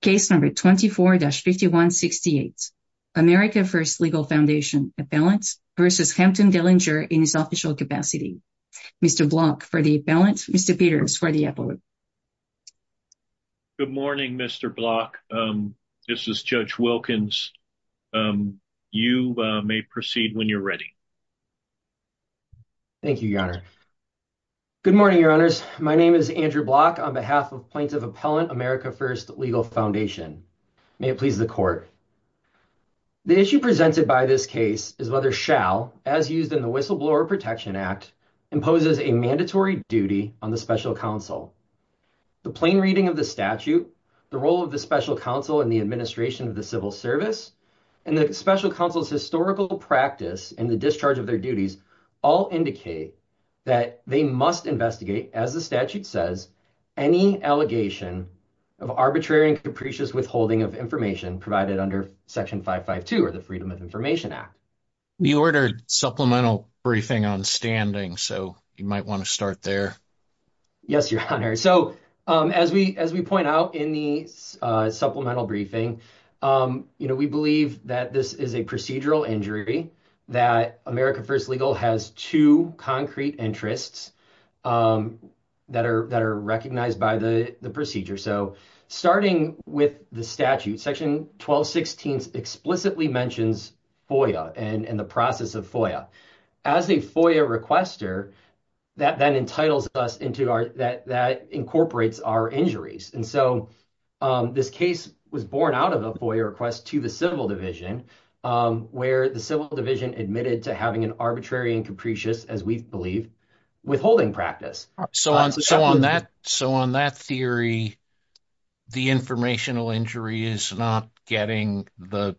Case number 24-5168, America First Legal Foundation, appellant versus Hampton Dellinger in his official capacity. Mr. Block for the appellant, Mr. Peters for the appellant. Good morning, Mr. Block. This is Judge Wilkins. You may proceed when you're ready. Thank you, your honor. Good morning, your honors. My name is Andrew Block on behalf of Plaintiff Appellant America First Legal Foundation. May it please the court. The issue presented by this case is whether SHAL, as used in the Whistleblower Protection Act, imposes a mandatory duty on the special counsel. The plain reading of the statute, the role of the special counsel in the administration of the civil service, and the special counsel's historical practice in the discharge of their duties all indicate that they must investigate, as the statute says, any allegation of arbitrary and capricious withholding of information provided under Section 552 or the Freedom of Information Act. We ordered supplemental briefing on standing, so you might want to start there. Yes, your honor. So as we point out in the supplemental briefing, we believe that this procedural injury that America First Legal has two concrete interests that are recognized by the procedure. So starting with the statute, Section 1216 explicitly mentions FOIA and the process of FOIA. As a FOIA requester, that then entitles us into our, that incorporates our injuries. And so this case was born out of a FOIA request to the Civil Division, where the Civil Division admitted to having an arbitrary and capricious, as we believe, withholding practice. So on that theory, the informational injury is not getting the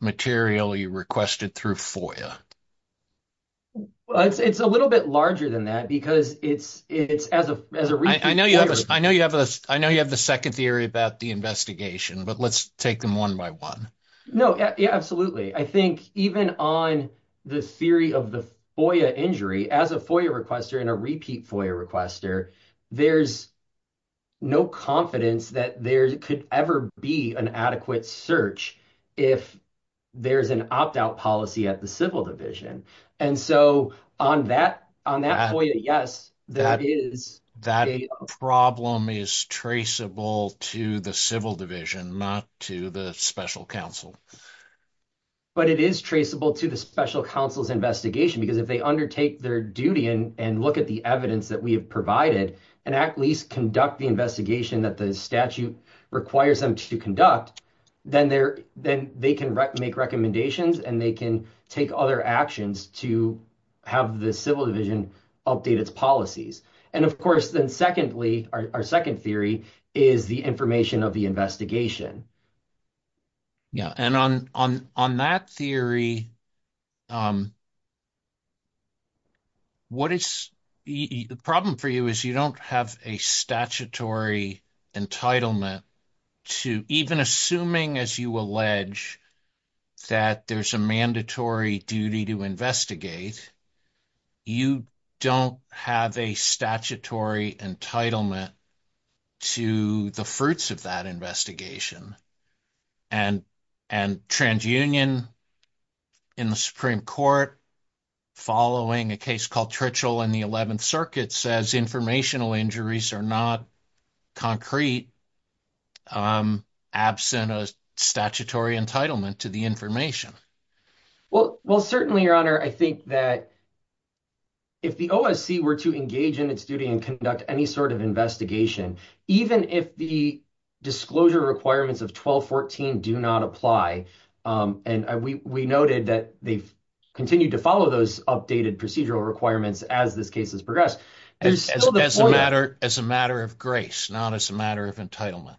material you requested through FOIA? It's a little bit larger than that because it's, as a, I know you have a, I know you have a, second theory about the investigation, but let's take them one by one. No, yeah, absolutely. I think even on the theory of the FOIA injury, as a FOIA requester and a repeat FOIA requester, there's no confidence that there could ever be an adequate search if there's an opt-out policy at the Civil Division. And so on that, on that FOIA, yes, that is. That problem is traceable to the Civil Division, not to the Special Counsel. But it is traceable to the Special Counsel's investigation because if they undertake their duty and look at the evidence that we have provided and at least conduct the investigation that the statute requires them to conduct, then they're, then they can make recommendations and they can take other actions to have the Civil Division update its policies. And of course, then secondly, our second theory is the information of the investigation. Yeah, and on that theory, what is, the problem for you is you don't have a statutory entitlement to, even assuming, as you allege, that there's a mandatory duty to investigate, you don't have a statutory entitlement to the fruits of that investigation. And TransUnion in the Supreme Court, following a case called Tritchell in the 11th Circuit, says informational injuries are not concrete, absent a statutory entitlement to the information. Well, certainly, Your Honor, I think that if the OSC were to engage in its duty and conduct any sort of investigation, even if the disclosure requirements of 1214 do not apply, and we noted that they've continued to follow those updated procedural requirements as this case has progressed. As a matter of grace, not as a matter of entitlement.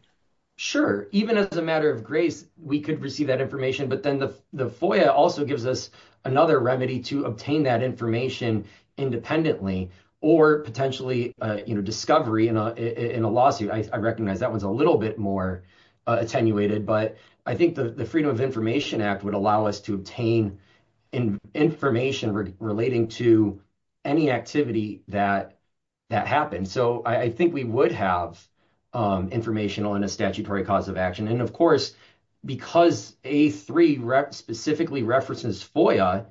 Sure, even as a matter of grace, we could receive that information, but then the FOIA also gives us another remedy to obtain that information independently or potentially, you know, discovery in a lawsuit. I recognize that one's a little bit more attenuated, but I think the Freedom of Information Act would allow us to obtain information relating to any activity that happened. So, I think we would have informational and a statutory cause of action. And of course, because A3 specifically references FOIA,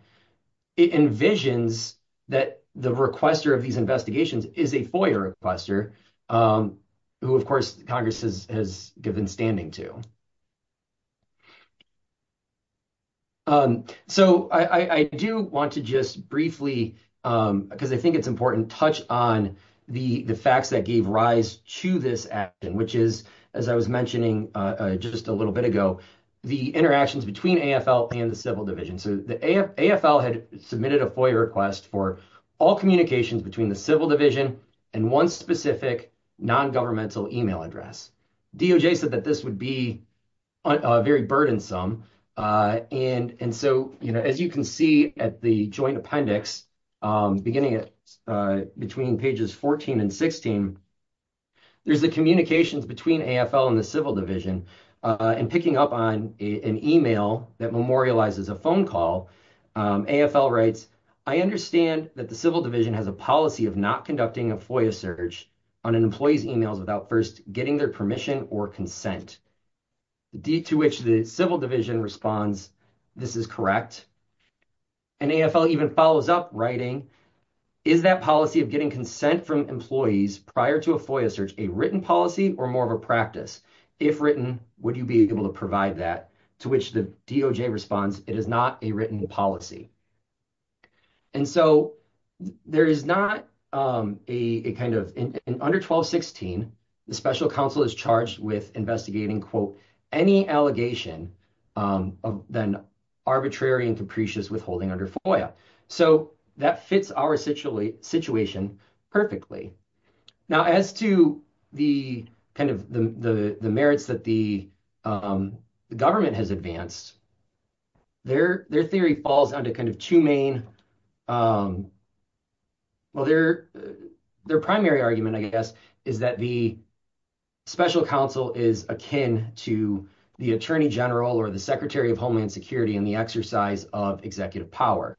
it envisions that the requester of these investigations is a FOIA requester, who, of course, Congress has given standing to. So, I do want to just briefly, because I think it's important, touch on the facts that gave rise to this action, which is, as I was mentioning just a little bit ago, the interactions between AFL and the Civil Division. So, the AFL had submitted a FOIA request for all communications between the Civil Division and one specific non-governmental email address. DOJ said that this would be very burdensome. And so, you know, as you can see at the joint appendix, beginning between pages 14 and 16, there's the communications between AFL and the Civil Division. And picking up on an email that memorializes a phone call, AFL writes, I understand that the Civil Division has a policy of not conducting a FOIA search on an employee's emails without first getting their permission or consent. To which the Civil Division responds, this is correct. And AFL even follows up writing, is that policy of getting consent from employees prior to a FOIA search a written policy or more of a practice? If written, would you be able to provide that? To which the DOJ responds, it is not a written policy. And so, there is not a kind of, under 1216, the special counsel is charged with investigating, quote, any allegation of then arbitrary and capricious withholding under FOIA. So, that fits our situation perfectly. Now, as to the kind of the merits that the government has advanced, their theory falls under kind of two main, well, their primary argument, I guess, is that the special counsel is akin to the attorney general or the Secretary of Homeland Security in the exercise of executive power.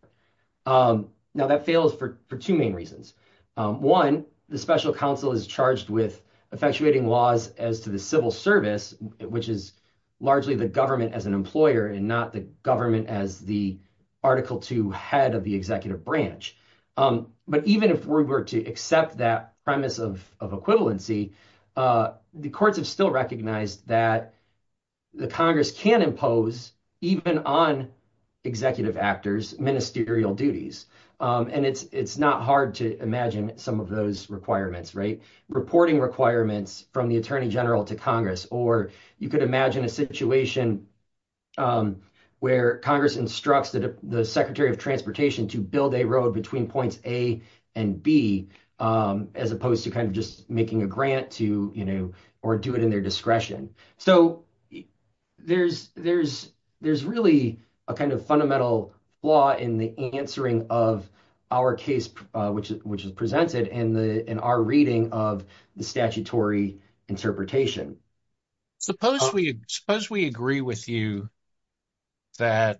Now, that fails for two main reasons. One, the special counsel is charged with effectuating laws as to the civil service, which is largely the government as an employer and not the government as the Article Two head of the executive branch. But even if we were to accept that premise of equivalency, the courts have still recognized that the Congress can impose, even on executive actors, ministerial duties. And it's not hard to imagine some of those requirements, right? Reporting requirements from the attorney general to Congress, or you could imagine a situation where Congress instructs the Secretary of Transportation to build a road between points A and B, as opposed to kind of just making a grant to, you know, or do it in their discretion. So, there's really a kind of fundamental flaw in the answering of our case, which is presented in our reading of the statutory interpretation. Suppose we agree with you that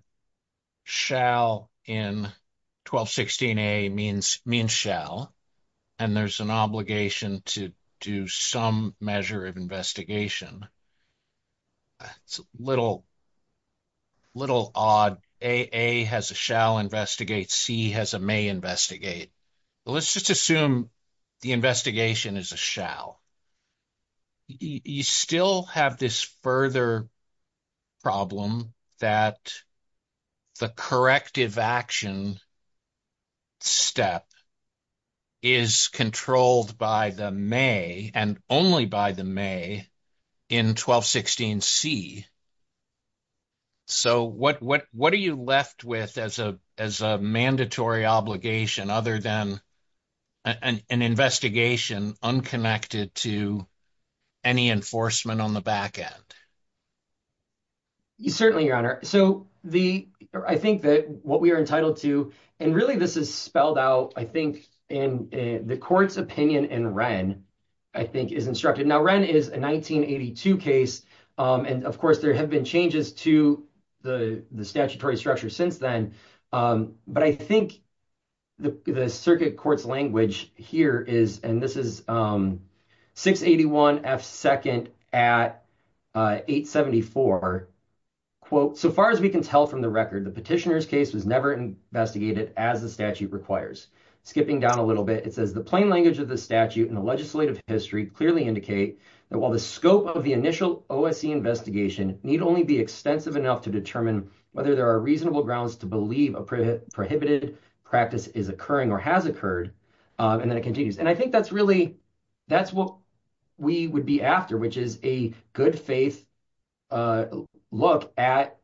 shall in 1216a means shall, and there's an obligation to do some measure of investigation. It's a little odd. A has a shall investigate, C has a may investigate. Let's just assume the investigation is a shall. You still have this further problem that the corrective action step is controlled by the may and only by the may in 1216c. So, what are you left with as a mandatory obligation, other than an investigation unconnected to any enforcement on the back end? Certainly, Your Honor. So, I think that what we are entitled to, and really this is spelled out, I think, in the court's opinion in Wren, I think, is instructed. Now, Wren is a 1982 case, and, of course, there have been changes to the statutory structure since then, but I think the circuit court's language here is, and this is 681F2nd at 874, quote, so far as we can tell from the record, the petitioner's case was never investigated as the statute requires. Skipping down a little bit, it says the plain language of the statute and the legislative history clearly indicate that while the scope of the initial OSC investigation need only be extensive enough to determine whether there are reasonable grounds to believe a prohibited practice is occurring or has occurred, and then it continues. And I think that's really, that's what we would be after, which is a good faith look at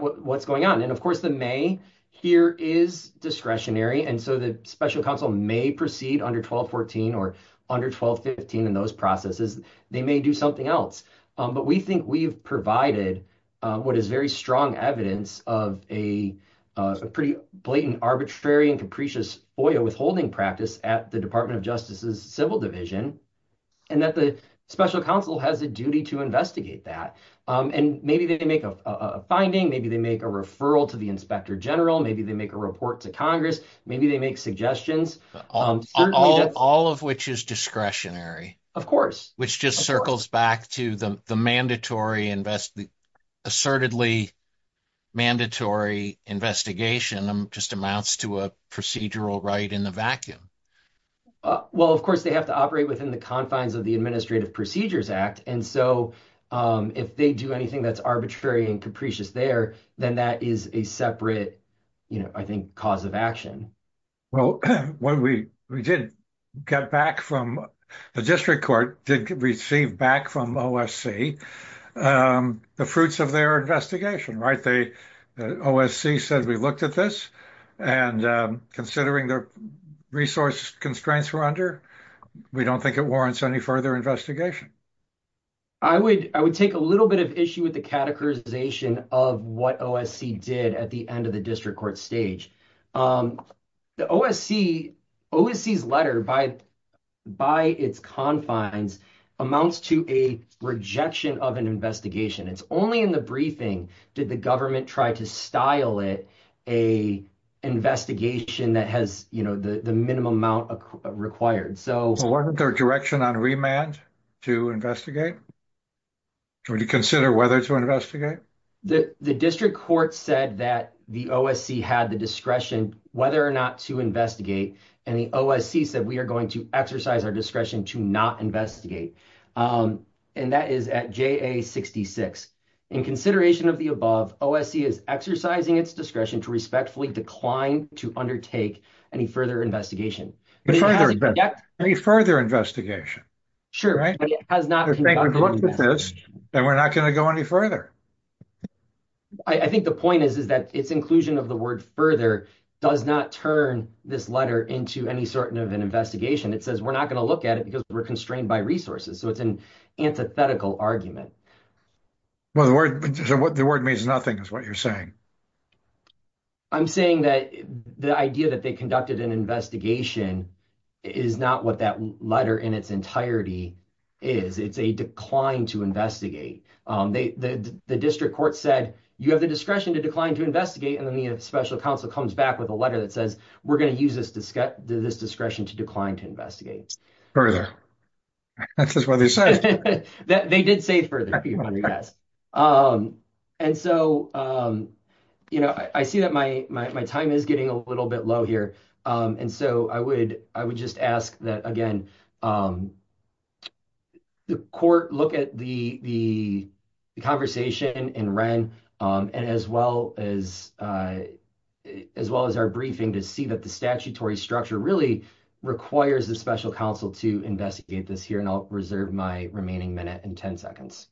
what's going on. And, of course, the may here is discretionary, and so the special counsel may proceed under 1214 or under 1215 in those processes. They may do something else. But we think we've provided what is very strong evidence of a pretty blatant, arbitrary, and capricious OIA withholding practice at the Department of Justice's Civil Division, and that the special counsel has a duty to that. And maybe they make a finding, maybe they make a referral to the inspector general, maybe they make a report to Congress, maybe they make suggestions. All of which is discretionary. Of course. Which just circles back to the assertedly mandatory investigation just amounts to a procedural right in the vacuum. Well, of course, they have to operate if they do anything that's arbitrary and capricious there, then that is a separate, you know, I think, cause of action. Well, when we did get back from, the district court did receive back from OSC the fruits of their investigation, right? The OSC said, we looked at this, and considering the resource constraints we're under, we don't think it warrants any further investigation. I would, I would take a little bit of issue with the categorization of what OSC did at the end of the district court stage. The OSC, OSC's letter by, by its confines amounts to a rejection of an investigation. It's only in the briefing did the government try to style it, a investigation that has, you know, the minimum amount required. So. Well, what was their direction on remand to investigate? Would you consider whether to investigate? The district court said that the OSC had the discretion whether or not to investigate. And the OSC said, we are going to exercise our discretion to not investigate. And that is at JA 66. In consideration of the above, OSC is exercising its discretion to respectfully decline to undertake any further investigation. Any further investigation. Sure. And we're not going to go any further. I think the point is, is that its inclusion of the word further does not turn this letter into any sort of an investigation. It says, we're not going to look at it because we're constrained by resources. So it's an argument. Well, the word, the word means nothing is what you're saying. I'm saying that the idea that they conducted an investigation is not what that letter in its entirety is. It's a decline to investigate. The district court said, you have the discretion to decline to investigate. And then the special counsel comes back with a letter that says, we're going to use this discretion to decline to investigate. Further. That's what they said. They did say further. And so, you know, I see that my time is getting a little bit low here. And so I would just ask that again, the court look at the conversation in Wren and as well as as well as our briefing to see that the statutory structure really requires a special counsel to investigate this here. And I'll reserve my remaining minute and 10 seconds.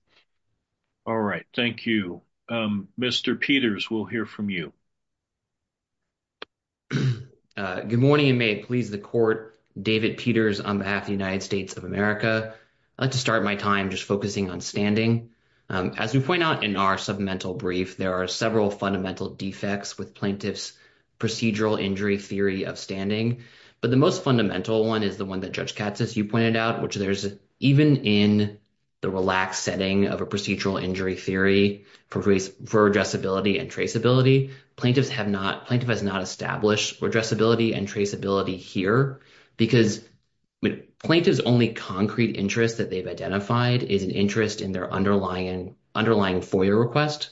All right. Thank you. Mr. Peters, we'll hear from you. Good morning and may it please the court. David Peters on behalf of the United States of America. I'd like to start my time just focusing on standing. As we point out in our submental brief, there are several fundamental defects with plaintiff's procedural injury theory of standing. But the most fundamental one is the one that Judge Katz, as you pointed out, which there's even in the relaxed setting of a procedural injury theory for addressability and traceability. Plaintiffs have not plaintiff has not established addressability and traceability here because plaintiff's only concrete interest that they've identified is an interest in their underlying FOIA request.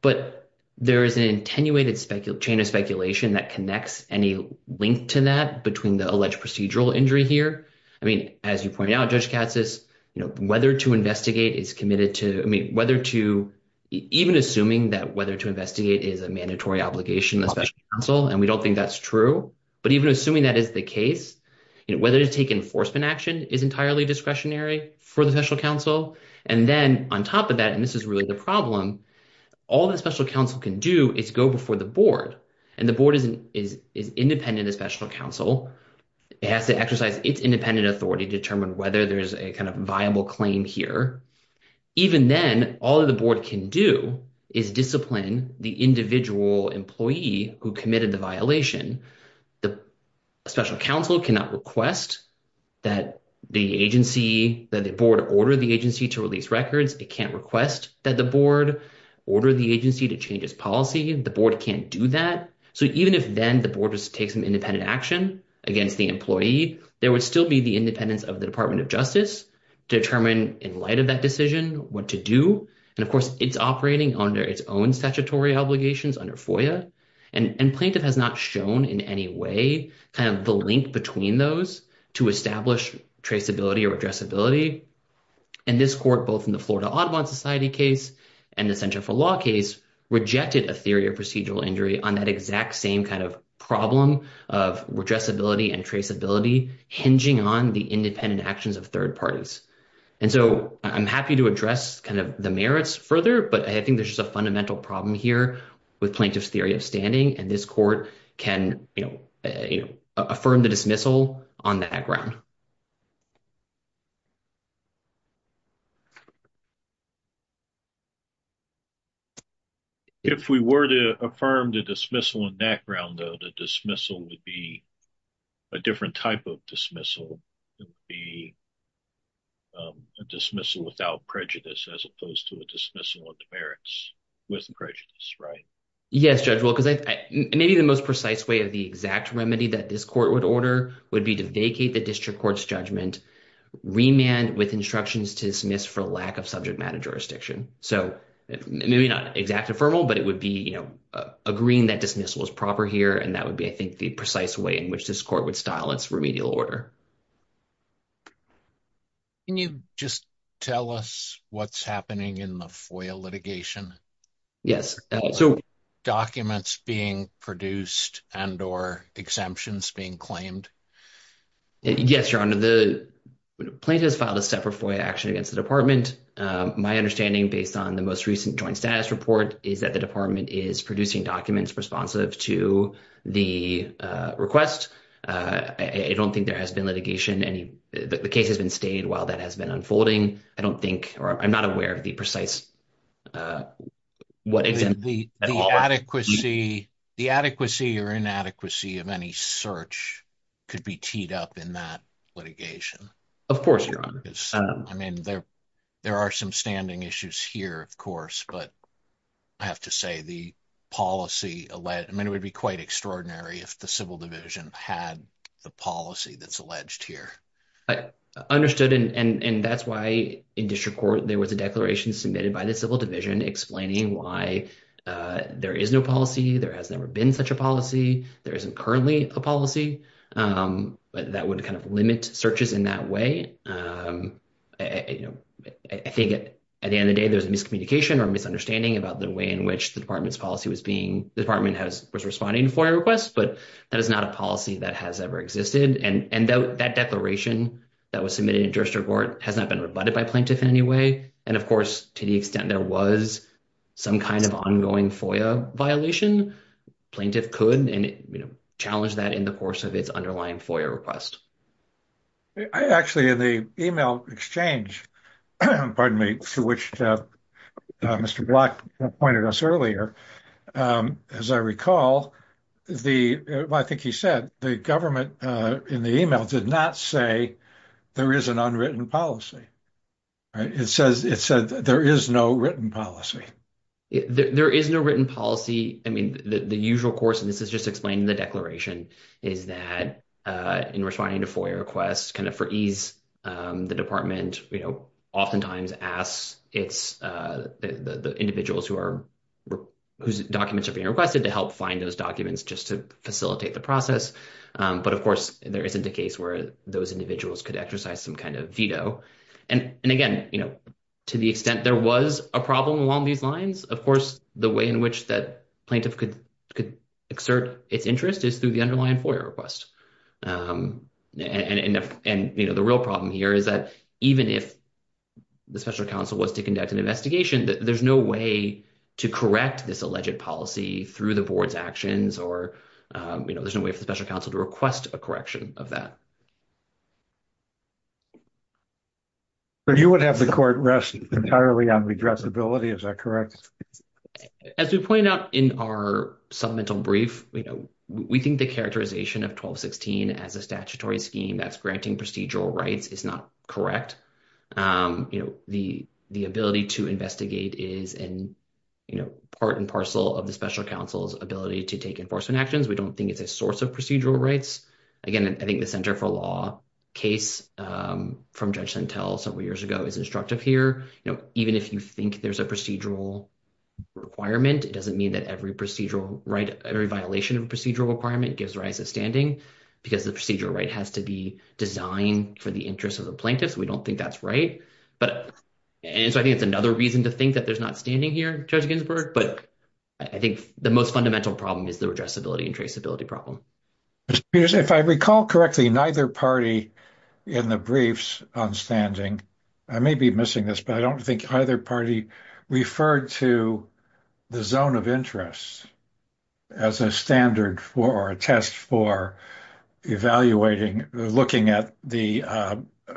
But there is an attenuated chain of speculation that connects any link to that between the alleged procedural injury here. I mean, as you point out, Judge Katz, whether to investigate is committed to whether to even assuming that whether to investigate is a mandatory obligation, especially counsel. And we don't think that's true. But even assuming that is the case, whether to take enforcement action is entirely discretionary for the special counsel. And then on top of that, and this is really the problem, all the special counsel can do is go before the board. And the board is independent of special counsel. It has to exercise its independent authority to determine whether there's a kind of viable claim here. Even then, all the board can do is discipline the individual employee who committed the violation. The special counsel cannot request that the agency that the board order the agency to release records. It can't request that the board order the agency to change its policy. The board can't do that. So even if then the board just takes an independent action against the employee, there would still be the independence of the Department of Justice determine in light of that decision what to do. And of course, it's operating under its own statutory obligations under FOIA. And plaintiff has not shown in any way kind of the link between those to establish traceability or addressability. And this court, both in the Florida Audubon Society case and the Center for Law case, rejected a theory of procedural injury on that exact same kind of problem of addressability and traceability hinging on the independent actions of third parties. And so I'm happy to address kind of the merits further, but I think there's just a fundamental problem here with plaintiff's standing and this court can, you know, affirm the dismissal on that ground. If we were to affirm the dismissal on that ground, though, the dismissal would be a different type of dismissal. It would be a dismissal without prejudice as opposed to a maybe the most precise way of the exact remedy that this court would order would be to vacate the district court's judgment, remand with instructions to dismiss for lack of subject matter jurisdiction. So maybe not exact affirmal, but it would be, you know, agreeing that dismissal is proper here. And that would be, I think, the precise way in which this court would style its remedial order. Can you just tell us what's happening in the FOIA litigation? Yes. So documents being produced and or exemptions being claimed? Yes, Your Honor, the plaintiff has filed a separate FOIA action against the department. My understanding based on the most recent joint status report is that the department is producing documents responsive to the request. I don't think there has been litigation. The case has been stayed while that has been unfolding. I don't think or I'm not aware of the precise what exactly. The adequacy or inadequacy of any search could be teed up in that litigation. Of course, Your Honor. I mean, there are some standing issues here, of course, but I have to say the policy, I mean, it would be quite extraordinary if the civil division had the policy that's alleged here. I understood. And that's why in district there was a declaration submitted by the civil division explaining why there is no policy. There has never been such a policy. There isn't currently a policy that would kind of limit searches in that way. I think at the end of the day, there's a miscommunication or misunderstanding about the way in which the department's policy was being, the department was responding to FOIA requests, but that is not a policy that has ever existed. And that declaration that was submitted has not been rebutted by plaintiff in any way. And of course, to the extent there was some kind of ongoing FOIA violation, plaintiff could challenge that in the course of its underlying FOIA request. I actually, in the email exchange, pardon me, to which Mr. Black pointed us earlier, as I recall, the, well, I think he said the government in the email did not say there is an unwritten policy, right? It says, it said there is no written policy. There is no written policy. I mean, the usual course, and this is just explaining the declaration is that in responding to FOIA requests kind of for ease, the department, you know, the individuals who are, whose documents are being requested to help find those documents just to facilitate the process. But of course, there isn't a case where those individuals could exercise some kind of veto. And again, you know, to the extent there was a problem along these lines, of course, the way in which that plaintiff could exert its interest is through the underlying FOIA request. And, you know, the real problem here is that even if the special counsel was to conduct an investigation, there's no way to correct this alleged policy through the board's actions or, you know, there's no way for the special counsel to request a correction of that. So you would have the court rest entirely on redressability, is that correct? As we pointed out in our supplemental brief, you know, we think the characterization of 1216 as a statutory scheme that's granting procedural rights is not correct. You know, the ability to investigate is in, you know, part and parcel of the special counsel's ability to take enforcement actions. We don't think it's a source of procedural rights. Again, I think the Center for Law case from Judge Sentelle several years ago is instructive here. You know, even if you think there's a procedural requirement, it doesn't mean that every procedural right, every violation of a procedural requirement gives rise to standing, because the procedural right has to be designed for the interest of the plaintiff. So we don't think that's right. And so I think it's another reason to think that there's not standing here, Judge Ginsburg, but I think the most fundamental problem is the redressability and traceability problem. If I recall correctly, neither party in the briefs on standing, I may be missing this, but I don't think either party referred to the zone of interest as a standard for, or a test for evaluating, looking at the,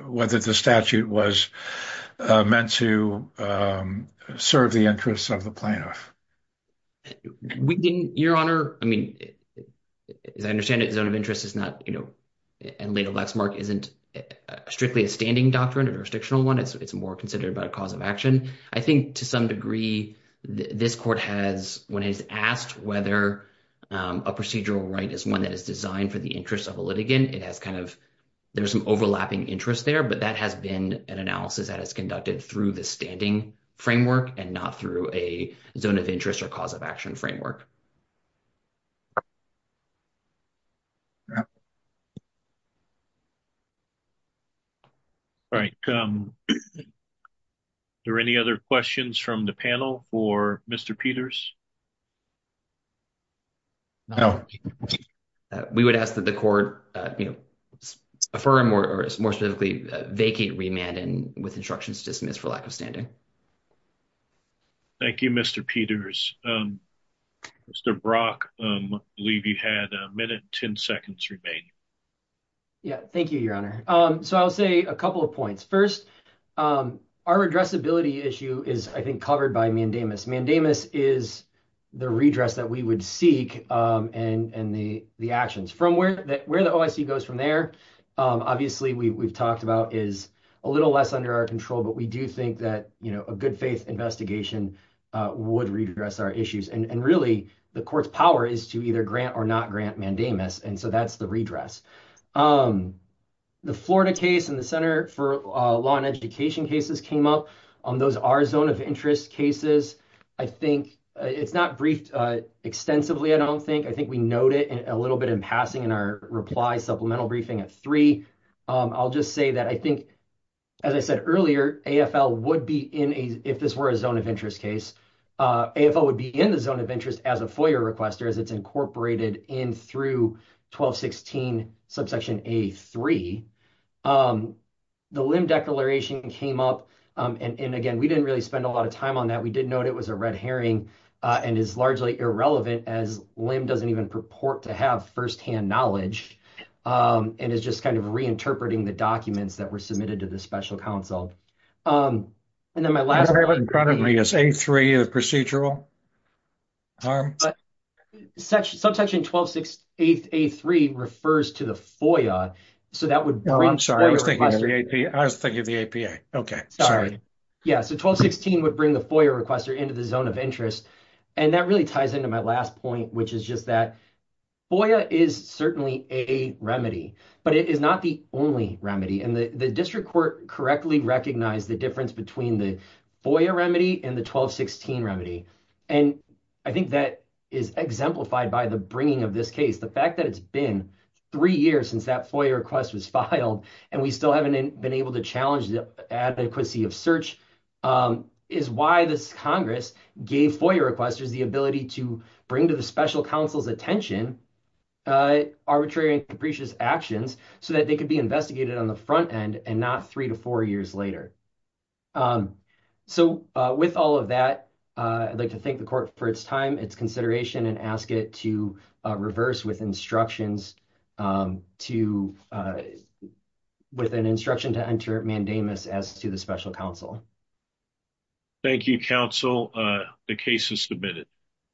whether the statute was meant to serve the interests of the plaintiff. We didn't, Your Honor, I mean, as I understand it, zone of interest is not, you know, and legal blacksmark isn't strictly a standing doctrine, a jurisdictional one. It's more considered about a cause of action. I think to some degree, this court has, when it is asked whether a procedural right is one that is designed for the interest of a litigant, it has kind of, there's some overlapping interest there, but that has been an analysis that is conducted through the standing framework and not through a zone of interest or cause of action framework. All right. Are there any other questions from the panel for Mr. Peters? No. We would ask that the court, you know, affirm or more specifically vacate remand with instructions dismissed for lack of standing. Thank you, Mr. Peters. Mr. Brock, I believe you had a minute, 10 seconds remain. Yeah. Thank you, Your Honor. So I'll say a couple of points. First, our addressability issue is, I think, covered by mandamus. Mandamus is the redress that we would seek and the actions. From where the OIC goes from there, obviously, we've talked about is a little less under our control, but we do think that, you know, a good faith investigation would redress our issues. And really, the court's power is to either grant or not grant mandamus. And so that's the redress. The Florida case and the Center for Law and Education cases came up on those are zone of interest cases. I think it's not briefed extensively. I don't think, I think we note it a little bit in passing in our reply supplemental briefing at three. I'll just say that I think, as I said earlier, AFL would be in a, if this were a zone of interest case, AFL would be in the zone of interest as a FOIA requester as it's incorporated in through 1216 subsection A3. The limb declaration came up. And again, we didn't really spend a lot of time on that. We did note it was a red herring and is largely irrelevant as limb doesn't even purport to have firsthand knowledge. And it's just kind of reinterpreting the documents that were submitted to the special counsel. And then my last- I don't know if it was in front of me, is A3 a procedural? Subsection 1268 A3 refers to the FOIA. So that would bring- Oh, I'm sorry. I was thinking of the APA. Okay. Sorry. Yeah. So 1216 would bring the FOIA requester into the zone of interest. And that really ties into my last point, which is just that FOIA is certainly a remedy, but it is not the only remedy. And the district court correctly recognized the difference between the FOIA remedy and the 1216 remedy. And I think that is exemplified by the bringing of this case. The fact that it's been three years since that FOIA request was filed, and we still haven't been able to challenge the adequacy of search, is why this Congress gave FOIA requesters the ability to bring to the special counsel's attention arbitrary and capricious actions so that they could be investigated on the front end and not three to four years later. So with all of that, I'd like to thank the court for its time, its consideration, and ask it to reverse with instructions to- with an instruction to enter mandamus as to the special counsel. Thank you, counsel. The case is submitted.